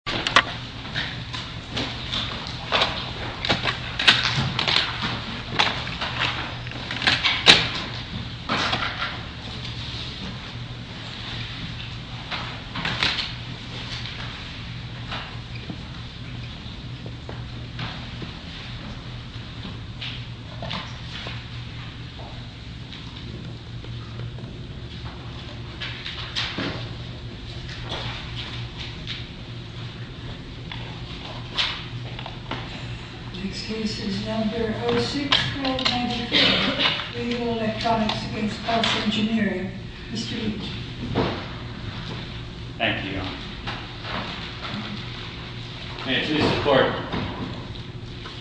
Lock's locked Lets get out of this place Next case is number 06193, radio electronics against pulse engineering, Mr. Leach Thank you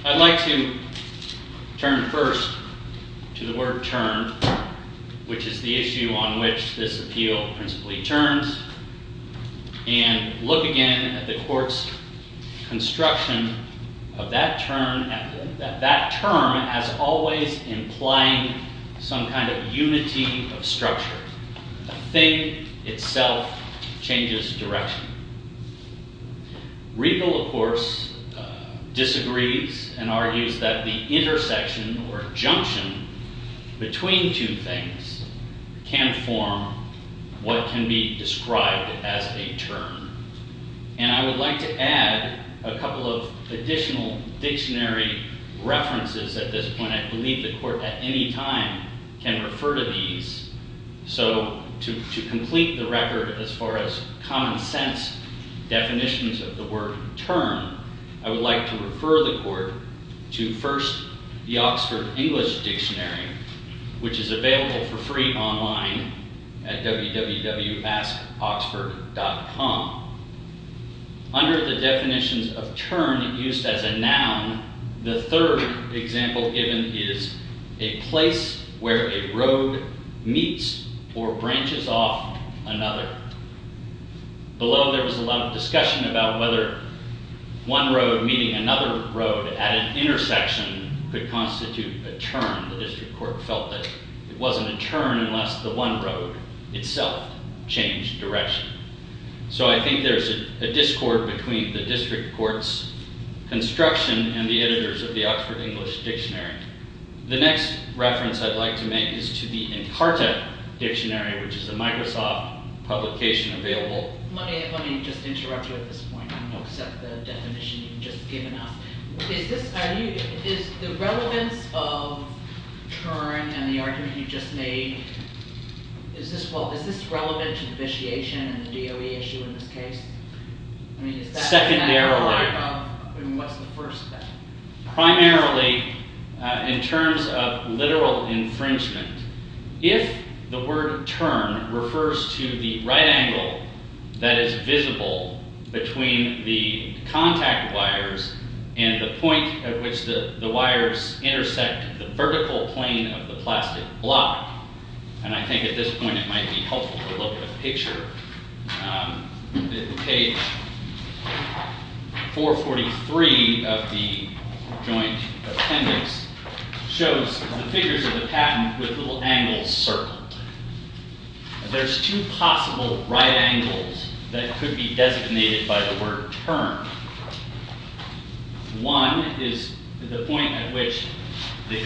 I'd like to turn first to the word turn which is the issue on which this appeal principally turns and look again at the courts construction of that term as always implying some kind of unity of structure, a thing itself changes direction, Riegel of course disagrees and argues that the intersection or junction between two things can form what can be described as a turn and I would like to add a couple of additional dictionary references at this point and refer to these so to complete the record as far as common sense definitions of the word turn I would like to refer the court to first the Oxford English Dictionary which is available for free online at www.askoxford.com under the definitions of turn used as a noun the third example given is a place where a road meets or branches off another below there was a lot of discussion about whether one road meeting another road at an intersection could constitute a turn the district court felt that it wasn't a turn unless the one road itself changed direction so I think there's a discord between the district courts construction and the editors of the Oxford English Dictionary the next reference I'd like to make is to the Imparta Dictionary which is a Microsoft publication available let me just interrupt you at this point I don't accept the definition you've just given us is this is the relevance of turn and the argument you just made is this well is this relevant to the vitiation in this case secondarily primarily in terms of literal infringement if the word turn refers to the right angle that is visible between the contact wires and the point at which the the wires intersect the vertical plane of the plastic block and I think at this point it page 443 of the Joint Appendix shows the figures of the patent with little angles circled there's two possible right angles that could be designated by the word turn one is the point at which the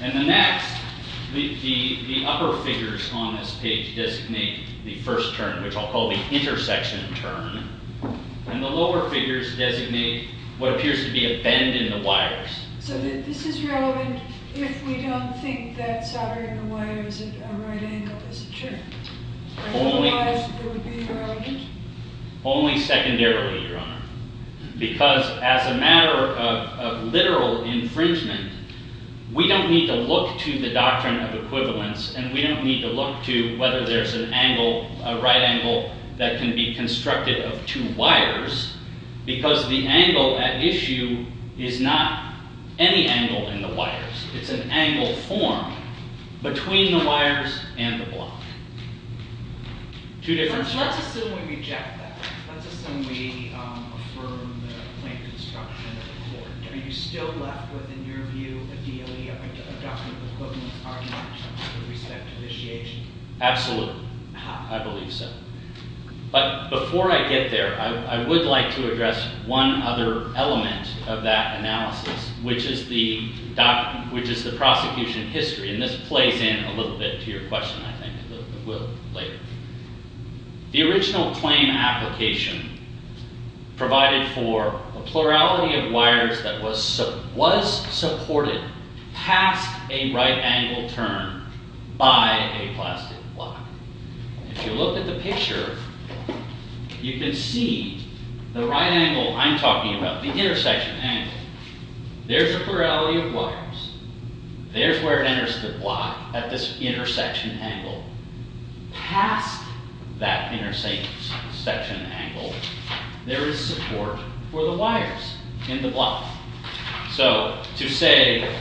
and the next the upper figures on this page designate the first turn which I'll call the intersection turn and the lower figures designate what appears to be a bend in the wires so this is relevant if we don't think that soldering a wire is a right angle is it true? only secondarily your honor because as a matter of literal infringement we don't need to look to the doctrine of equivalence and we don't need to look to whether there's an angle a right angle that can be constructed of two wires because the angle at issue is not any angle in the wires it's an angle form between the wires and the block two different absolutely I believe so but before I get there I would like to address one other element of that analysis which is the doc which is the prosecution history and this plays in a little bit to your question I think the original claim application provided for a plurality of wires that was so supported past a right angle turn by a plastic block if you look at the picture you can see the right angle I'm talking about the intersection angle there's a plurality of wires there's where it enters the block at this intersection angle past that intersection angle there is support for the wires in the block so to say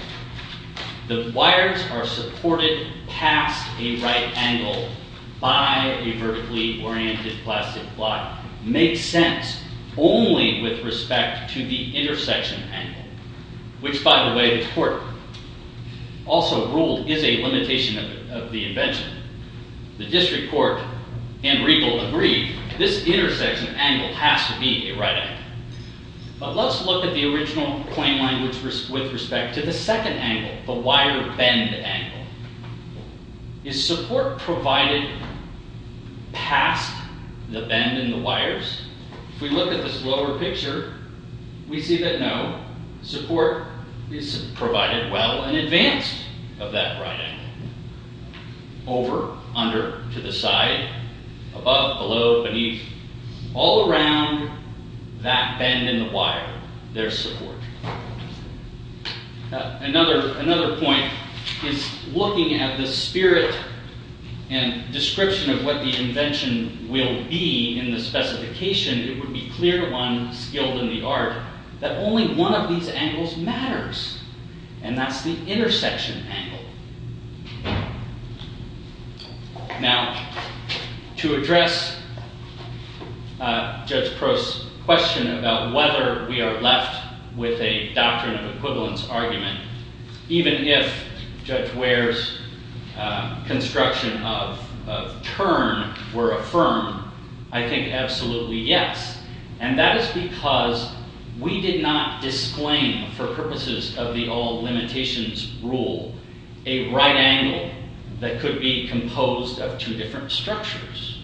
the wires are supported past a right angle by a vertically oriented plastic block makes sense only with respect to the intersection angle which by the way the court also ruled is a limitation of the invention the district court and regal agreed this intersection angle has to be a right but let's look at the original claim language risk with respect to the second angle the wire bend angle is support provided past the bend in the wires if we look at this lower picture we see that no support is provided well and advanced of that running over under to the side above below beneath all around that bend in the wire there's support another another point is looking at the spirit and description of what the invention will be in the specification it would be clear to one skilled in the art that only one of these angles matters and that's the intersection now to address just cross question about whether we are left with a doctrine of equivalence argument even if judge wears construction of turn were I think absolutely yes and that is because we did not disclaim for purposes of the all limitations rule a right angle that could be composed of two different structures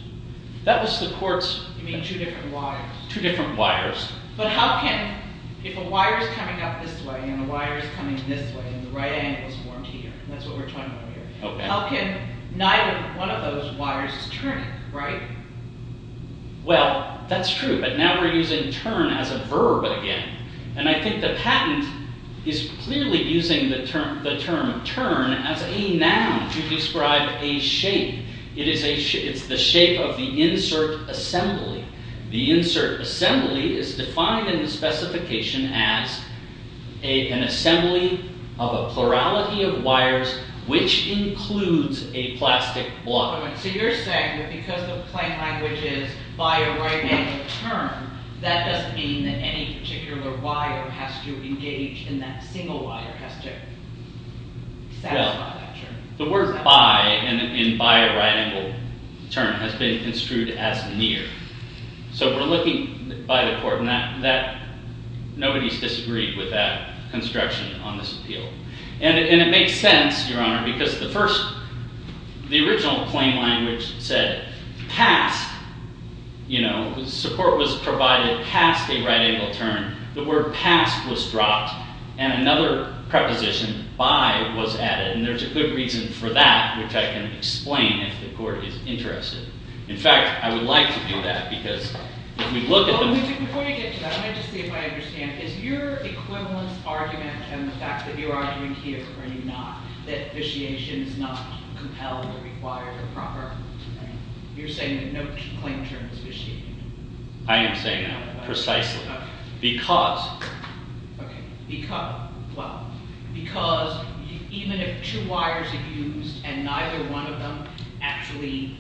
that was the courts two different wires but how can if a wire is coming up this way and the wires coming this way and the right angles weren't here that's what we're talking about how can neither one of those wires is turning right well that's true but now we're using turn as a verb again and I think the patent is clearly using the term the term turn as a noun to describe a shape it is a shape it's the shape of the insert assembly the insert assembly is defined in the specification as a an assembly of a plurality of wires which includes a plastic block so you're saying that because the plain language is by a right angle turn that doesn't mean that any particular wire has to engage in that single wire has to the word by and in by a right angle turn has been construed as near so we're looking by the court and that that nobody's disagreed with that construction on this appeal and it makes sense your honor because the first the original plain language said past you know support was provided past a right angle turn the word past was dropped and another preposition by was added and there's a good reason for that which I can explain if the court is interested in fact I would like to do that because we look at them before you get to that I just see if I understand is your equivalence argument and the fact that your argument here are you not that vitiation is not compelled or required or proper you're saying that no claim term is vitiated I am saying that precisely because because well because even if two wires are used and neither one of them actually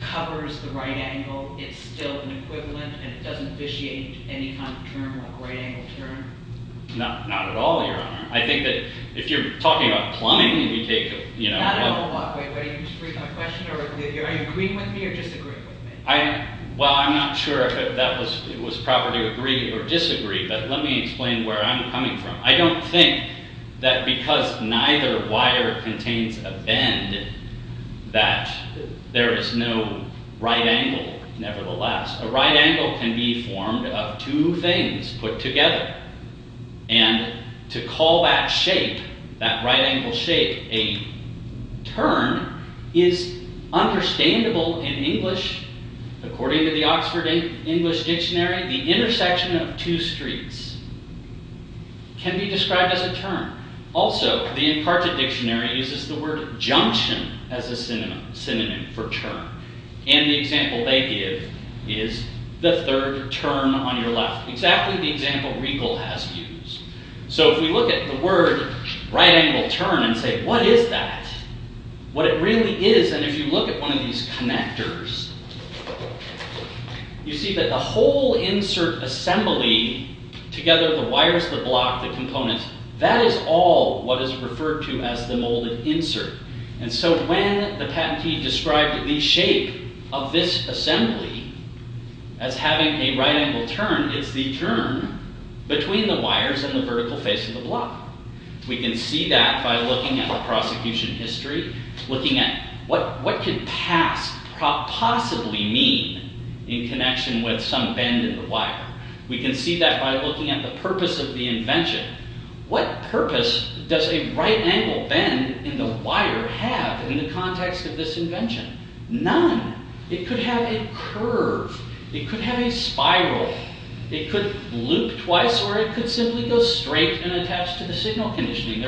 covers the right angle it's still an equivalent and it doesn't vitiate any kind of term or right angle turn not not at all your honor I think that if you're talking about plumbing and you take you know I well I'm not sure that was it was proper to agree or disagree but let me explain where I'm coming from I don't think that because neither wire contains a bend that there is no right angle nevertheless a right angle can be formed of two things put together and to call that shape that right angle shape a turn is understandable in English according to the Oxford English Dictionary the intersection of two streets can be described as a turn also the imparted dictionary uses the word junction as a synonym for turn and the example they give is the third turn on your left exactly the example Regal has used so if we look at the word right angle turn and say what is that what it really is and if you look at one of these connectors you see that the whole insert assembly together the wires the block the components that is all what is referred to as the molded insert and so when the patentee described the shape of this assembly as having a right angle turn it's the turn between the wires and the vertical face of the block we can see that by looking at the prosecution history looking at what what could pass possibly mean in connection with some bend in the wire we can see that by looking at the purpose of the invention what purpose does a right angle bend in the wire have in the context of this invention none it could have a curve it could have a spiral it could loop twice or it could simply go straight and attached to the signal conditioning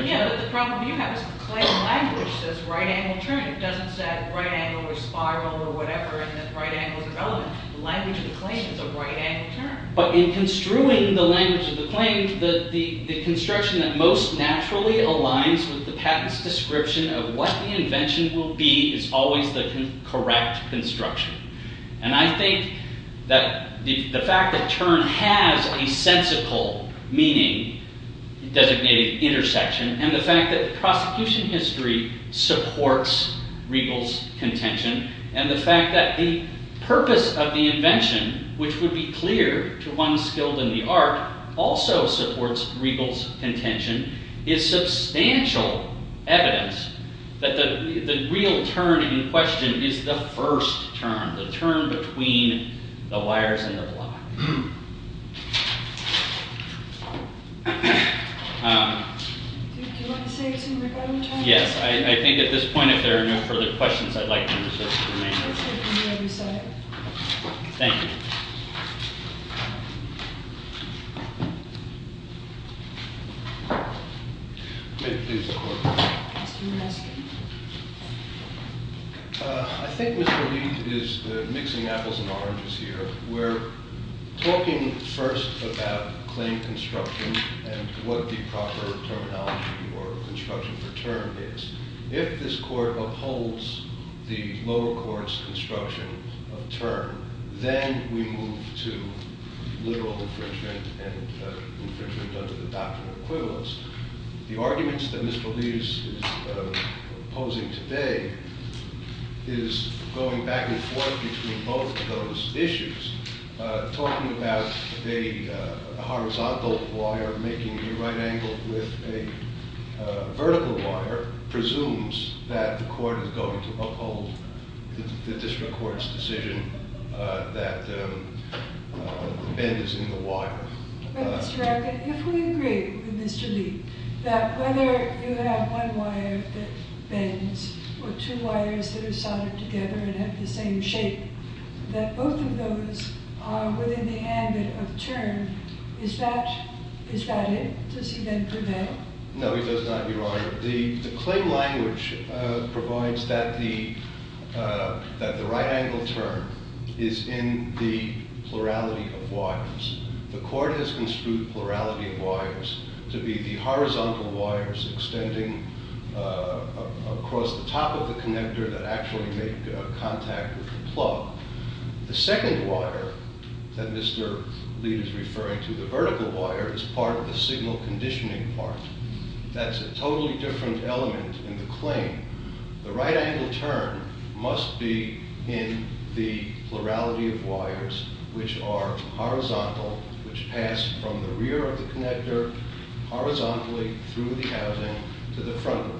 but in construing the language of the claim that the construction that most naturally aligns with the patents description of what the invention will be is always the correct construction and I think that the fact that turn has a sensical meaning designated intersection and the fact that the prosecution history supports Regal's contention and the fact that the purpose of the invention which would be clear to one skilled in the art also supports Regal's contention is substantial evidence that the real turn in question is the first turn the turn between the wires and the block yes I think at this point if I think mr. Lee is mixing apples and oranges here we're talking first about claim construction and what the proper terminology or construction for term is if this court upholds the lower courts construction of term then we move to the arguments that mr. Lee's posing today is going back and forth between both of those issues talking about a horizontal wire making the right with a vertical wire presumes that the court is going to uphold the district courts decision that is in the wire that whether you have one wire that bends or two wires that are the claim language provides that the that the right angle turn is in the plurality of wires the court has construed plurality of wires to be the horizontal wires extending across the top of the connector that actually make contact with the plug the second wire that mr. lead is referring to the vertical wire is part of the signal conditioning part that's a totally different element in the claim the right angle turn must be in the plurality of wires which are horizontal which pass from the rear of the connector horizontally through the housing to the front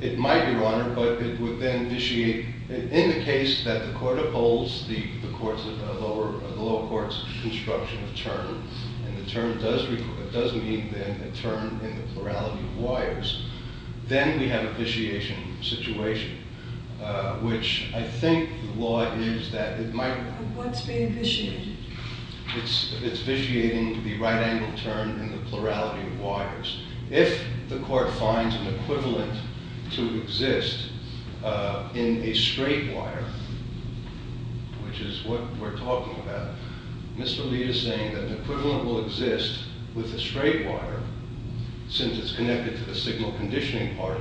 it might be water but it would then vitiate in the case that the court upholds the courts of over the lower courts construction of term and the term does it doesn't mean then a turn in the plurality of wires then we have a vitiation situation which I think the law is that it might it's it's vitiating the right angle turn in the plurality of wires if the court finds an equivalent to exist in a straight wire which is what we're talking about mr. Lee is saying that the equivalent will exist with a straight wire since it's connected to the signal conditioning part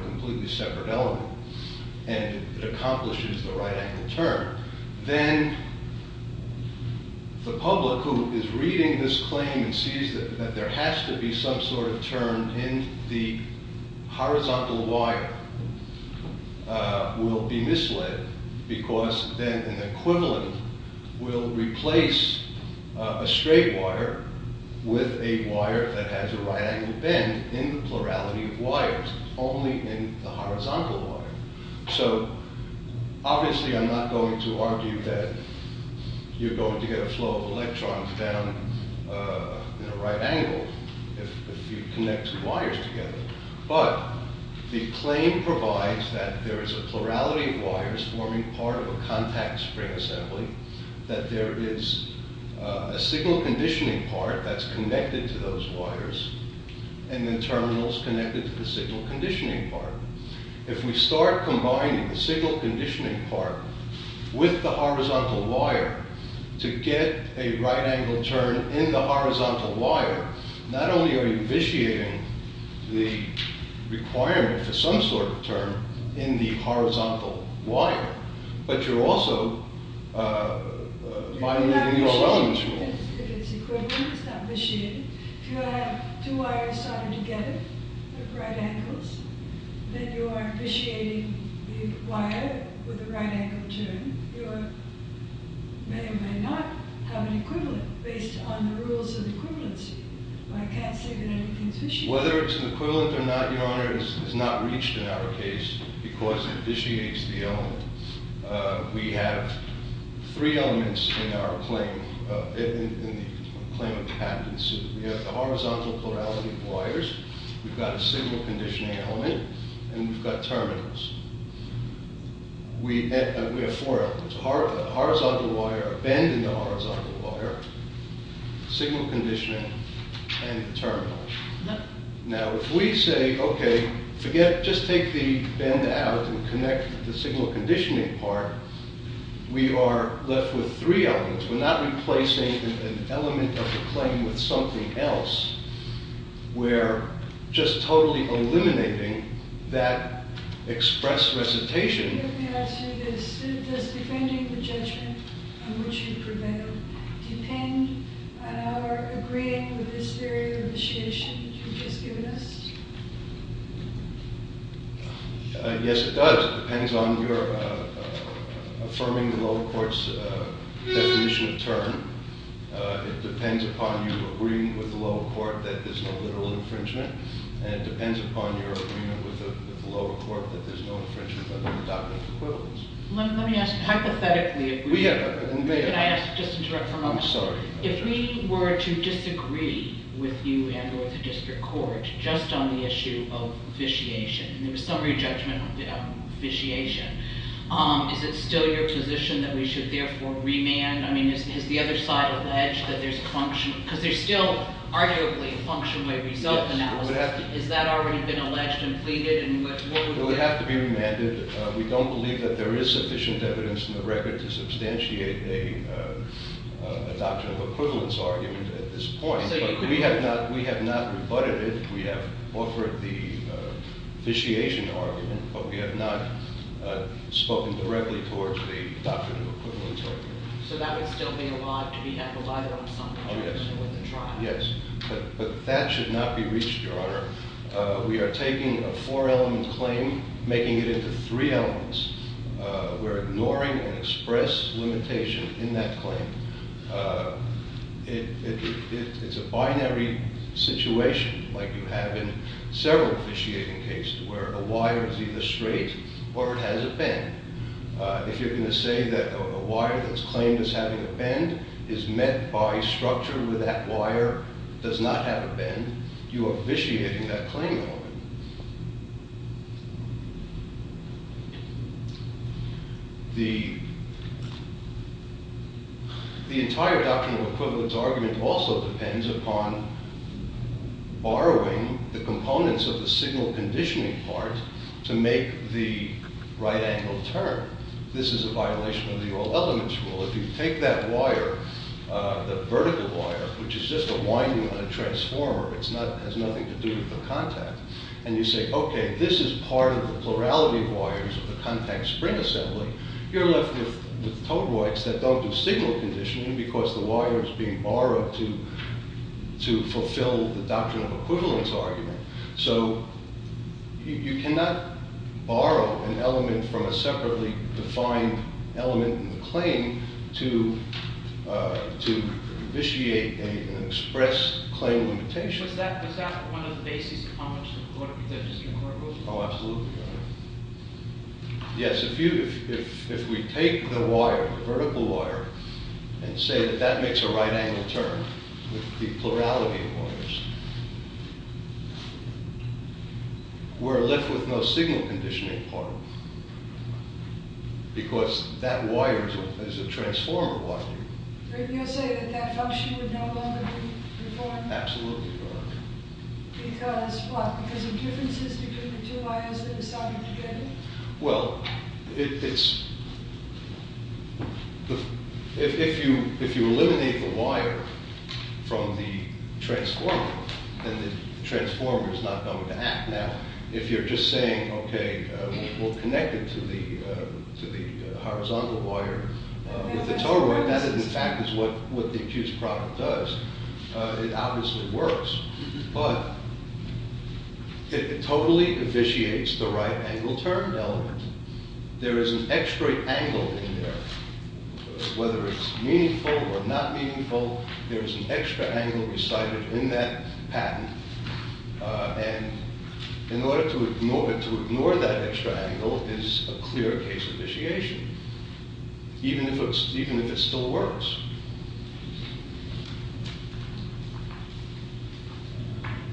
and it accomplishes the right angle turn then the public who is reading this claim and sees that there has to be some sort of turn in the horizontal wire will be misled because then an equivalent will replace a straight wire with a wire that has a right angle bend in the plurality of wires only in the horizontal wire so obviously I'm not going to argue that you're going to get a flow of electrons down in a right angle if you connect two wires together but the claim provides that there is a plurality of wires forming part of a contact spring assembly that there is a signal conditioning part that's connected to those wires and then terminals connected to the signal conditioning part if we start combining the signal conditioning part with the horizontal wire to get a right angle turn in the horizontal wire not only are you vitiating the requirement for some sort of turn in the horizontal wire but you're also violating the all elements rule. If it's equivalent, it's not vitiated. If you have two wires soldered together with right angles, then you are vitiating the wire with a right angle turn. You may or may not have an equivalent based on the rules of equivalency. I can't say that anything is vitiated. Whether it's an equivalent or not, Your Honor, is not reached in our case because it vitiates the element. We have three elements in the claim of the patent suit. We have the horizontal plurality of wires, we've got a signal conditioning element, and we've got terminals. We have four elements, a bend in the horizontal wire, signal conditioning, and terminals. Now if we say, okay, forget, just take the bend out and connect the signal conditioning part, we are left with three elements. We're not replacing an element of the claim with something else. We're just totally eliminating that express recitation. Does defending the judgment on which you prevail depend on our agreeing with this theory of initiation that you've just given us? Yes, it does. It depends on your affirming the lower court's definition of term. It depends upon you agreeing with the lower court that there's no literal infringement, and it depends upon your agreement with the lower court that there's no infringement under the doctrine of equivalence. Let me ask, hypothetically, if we- We have a- Can I ask, just to interrupt for a moment? I'm sorry. If we were to disagree with you and with the district court just on the issue of vitiation, and there was summary judgment on vitiation, is it still your position that we should therefore remand? I mean, has the other side alleged that there's a function, because there's still arguably a function by result analysis. Yes. Has that already been alleged and pleaded? Well, we have to be remanded. We don't believe that there is sufficient evidence in the record to substantiate a doctrine of equivalence argument at this point. So you could- But we have not rebutted it. We have offered the vitiation argument, but we have not spoken directly towards the doctrine of equivalence argument. So that would still be a lot to be handled either on summary judgment or with a trial? Yes. But that should not be reached, Your Honor. We are taking a four-element claim, making it into three elements. We're ignoring an express limitation in that claim. It's a binary situation, like you have in several vitiating cases, where a wire is either straight or it has a bend. If you're going to say that a wire that's claimed as having a bend is met by structure where that wire does not have a bend, you are vitiating that claim on it. The entire doctrine of equivalence argument also depends upon borrowing the components of the signal conditioning part to make the right angle turn. This is a violation of the all elements rule. If you take that wire, the vertical wire, which is just a winding on a transformer, it has nothing to do with the contact, and you say, OK, this is part of the plurality of wires of the contact spring assembly, you're left with toad whites that don't do signal conditioning because the wire is being borrowed to fulfill the doctrine of equivalence argument. So you cannot borrow an element from a separately defined element in the claim to vitiate an express claim limitation. Is that one of the basic components of what we're just going to work with? Oh, absolutely. Yes, if we take the wire, the vertical wire, and say that that makes a right angle turn with the plurality of wires, we're left with no signal conditioning part because that wire is a transformer wire. Wouldn't you say that that function would no longer be important? Absolutely not. Because of what? Because of differences between the two wires that are starting to bend? Well, if you eliminate the wire from the transformer, then the transformer is not going to act. Now, if you're just saying, OK, we'll connect it to the horizontal wire with the toad white, that in fact is what the accused product does, it obviously works. But it totally vitiates the right angle turned element. There is an extra angle in there. Whether it's meaningful or not meaningful, there's an extra angle recited in that patent. And in order to ignore that extra angle is a clear case of vitiation, even if it still works.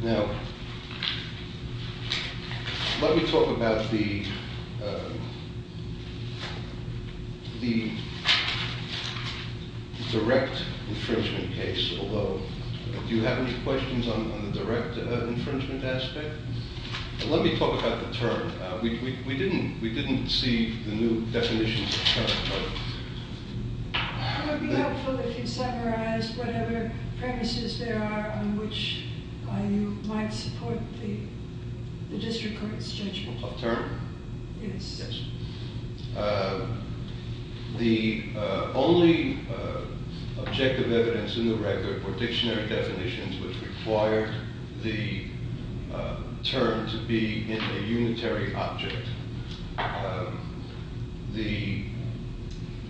Now, let me talk about the direct infringement case. Although, do you have any questions on the direct infringement aspect? Let me talk about the term. We didn't see the new definitions of term. It would be helpful if you summarized whatever premises there are on which you might support the district court's judgment. Of term? Yes. The only objective evidence in the record were dictionary definitions which required the term to be in a unitary object. The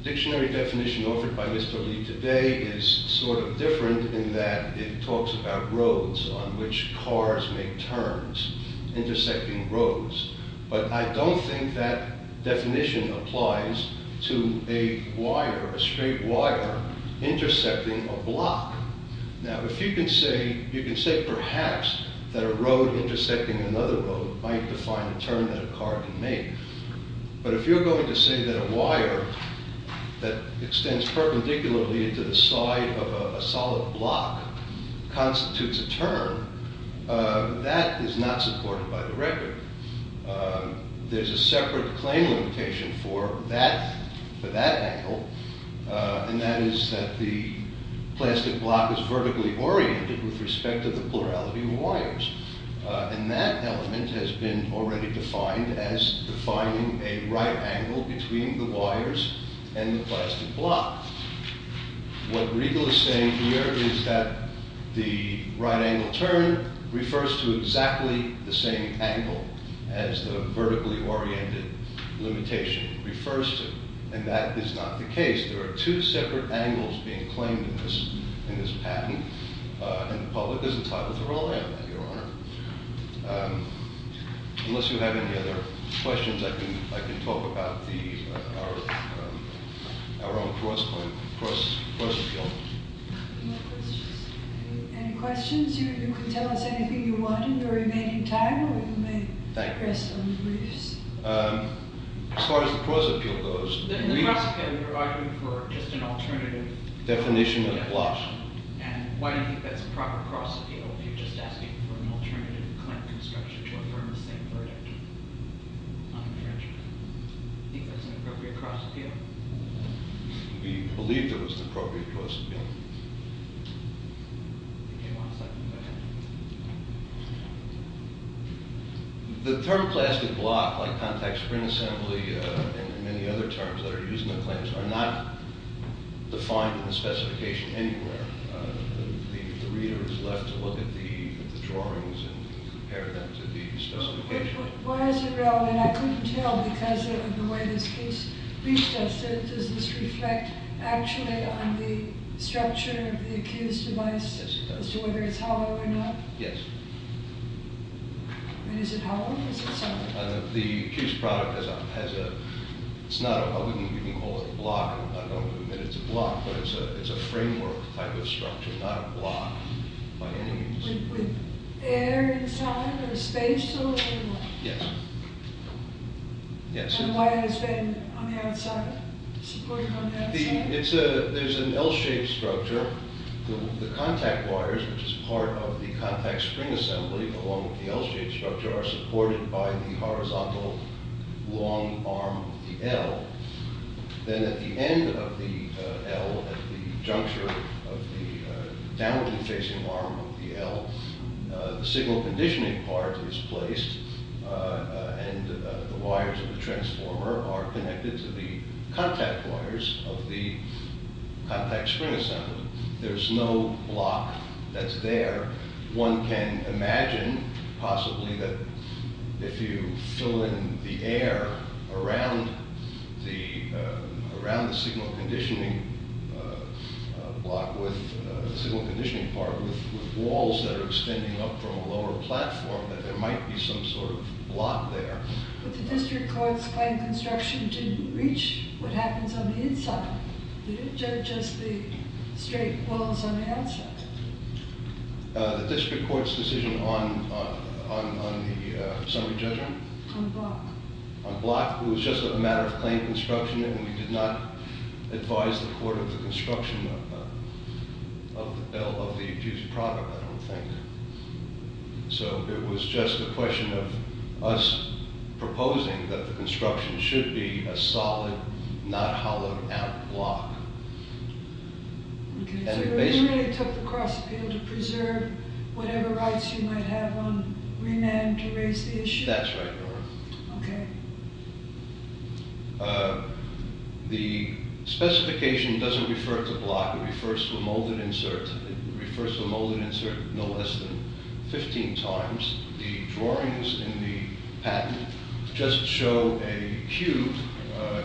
dictionary definition offered by Mr. Lee today is sort of different in that it talks about roads on which cars make turns intersecting roads. But I don't think that definition applies to a wire, a straight wire intersecting a block. Now, if you can say, you can say perhaps that a road intersecting another road might define a turn that a car can make. But if you're going to say that a wire that extends perpendicularly to the side of a solid block constitutes a turn, that is not supported by the record. There's a separate claim limitation for that angle. And that is that the plastic block is vertically oriented with respect to the plurality of wires. And that element has been already defined as defining a right angle between the wires and the plastic block. What Regal is saying here is that the right angle turn refers to exactly the same angle as the vertically oriented limitation refers to. And that is not the case. There are two separate angles being claimed in this patent. And the public is entitled to rule on that, Your Honor. Unless you have any other questions, I can talk about our own cross-appeal. Any questions? You can tell us anything you want in the remaining time, or you may rest on the briefs. Thank you. As far as the cross-appeal goes. In the cross-appeal, you're arguing for just an alternative. Definition of a block. And why do you think that's a proper cross-appeal if you're just asking for an alternative claim construction to affirm the same verdict? Do you think that's an appropriate cross-appeal? We believe it was an appropriate cross-appeal. The term plastic block, like contact spring assembly, and many other terms that are used in the claims, are not defined in the specification anywhere. The reader is left to look at the drawings and compare them to the specification. Why is it relevant? I couldn't tell because of the way this case reached us. Does this reflect actually on the structure of the accused device as to whether it's hollow or not? Yes. Is it hollow? Is it solid? The accused product has a, it's not a, you can call it a block. I don't want to admit it's a block, but it's a framework type of structure, not a block by any means. Is it with air inside or space or what? Yes. And why has it been on the outside, supported on the outside? There's an L-shaped structure. The contact wires, which is part of the contact spring assembly along with the L-shaped structure, are supported by the horizontal long arm of the L. Then at the end of the L, at the juncture of the downward facing arm of the L, the signal conditioning part is placed, and the wires of the transformer are connected to the contact wires of the contact spring assembly. There's no block that's there. One can imagine possibly that if you fill in the air around the signal conditioning part with walls that are extending up from a lower platform, that there might be some sort of block there. But the district courts claim construction didn't reach what happens on the inside. Did it judge us the straight walls on the outside? The district court's decision on the summary judgment? On block. On block. It was just a matter of claim construction, and we did not advise the court of the construction of the bill, of the abuse of product, I don't think. So it was just a question of us proposing that the construction should be a solid, not hollowed out block. Okay, so it really took the cross appeal to preserve whatever rights you might have on remand to raise the issue? That's right, Nora. Okay. The specification doesn't refer to block. It refers to a molded insert. It refers to a molded insert no less than 15 times. The drawings in the patent just show a cube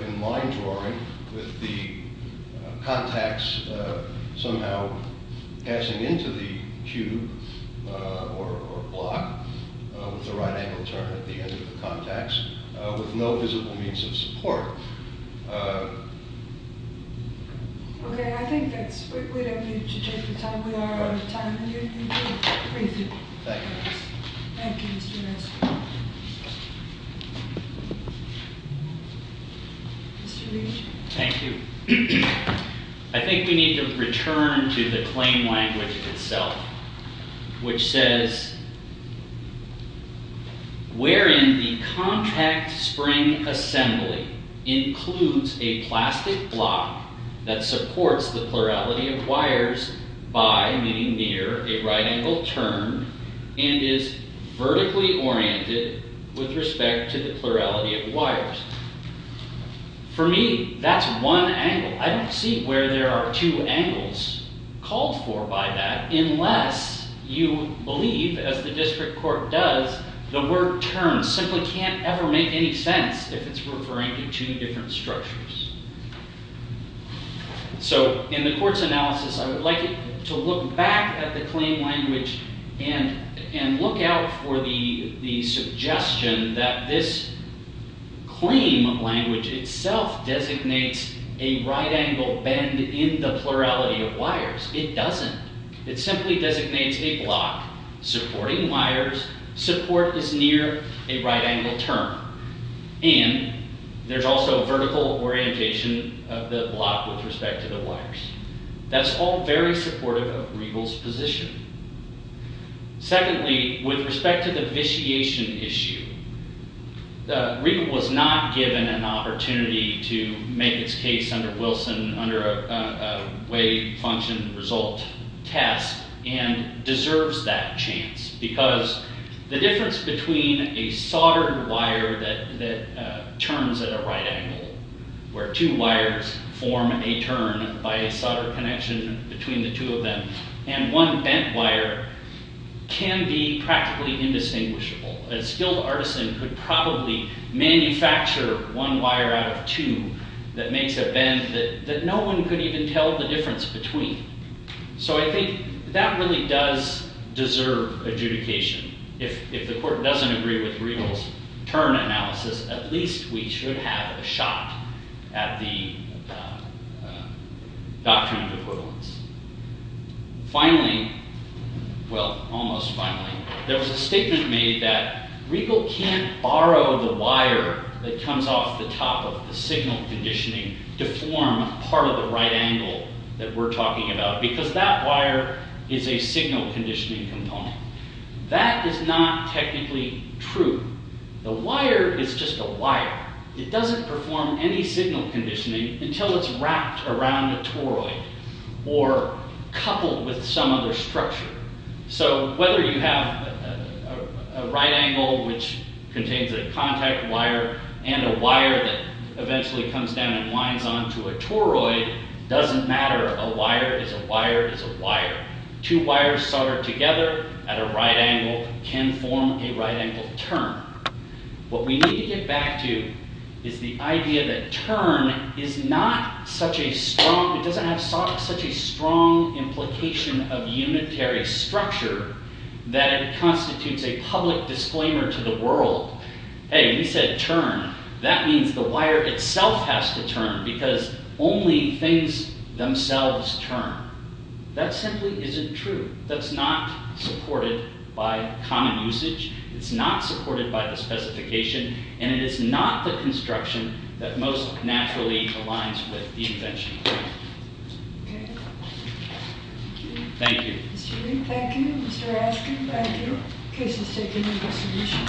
in line drawing with the contacts somehow passing into the cube or block with a right angle turn at the end of the contacts with no visible means of support. Okay, I think that's it. We don't need to take the time we are out of time. Thank you. Thank you. I think we need to return to the claim language itself. Which says wherein the contact spring assembly includes a plastic block that supports the plurality of wires by meaning near a right angle turn and is vertically oriented with respect to the plurality of wires. For me, that's one angle. I don't see where there are two angles called for by that unless you believe, as the district court does, the word turn simply can't ever make any sense if it's referring to two different structures. So, in the court's analysis, I would like you to look back at the claim language and look out for the suggestion that this claim language itself designates a right angle bend in the plurality of wires. It doesn't. It simply designates a block supporting wires. Support is near a right angle turn. And there's also vertical orientation of the block with respect to the wires. That's all very supportive of Regal's position. Secondly, with respect to the vitiation issue, Regal was not given an opportunity to make its case under Wilson under a wave function result test and deserves that chance. Because the difference between a soldered wire that turns at a right angle where two wires form a turn by a solder connection between the two of them and one bent wire can be practically indistinguishable. A skilled artisan could probably manufacture one wire out of two that makes a bend that no one could even tell the difference between. So I think that really does deserve adjudication. If the court doesn't agree with Regal's turn analysis, at least we should have a shot at the doctrine of equivalence. Finally, well, almost finally, there was a statement made that Regal can't borrow the wire that comes off the top of the signal conditioning to form part of the right angle that we're talking about because that wire is a signal conditioning component. That is not technically true. The wire is just a wire. It doesn't perform any signal conditioning until it's wrapped around a toroid or coupled with some other structure. So whether you have a right angle which contains a contact wire and a wire that eventually comes down and winds onto a toroid doesn't matter. A wire is a wire is a wire. Two wires soldered together at a right angle can form a right angle turn. What we need to get back to is the idea that turn is not such a strong, it doesn't have such a strong implication of unitary structure that it constitutes a public disclaimer to the world. Hey, we said turn. That means the wire itself has to turn because only things themselves turn. That simply isn't true. That's not supported by common usage. It's not supported by the specification, and it is not the construction that most naturally aligns with the invention. Thank you. Thank you. Thank you, Mr. Askin. Thank you. Case is taken in resolution.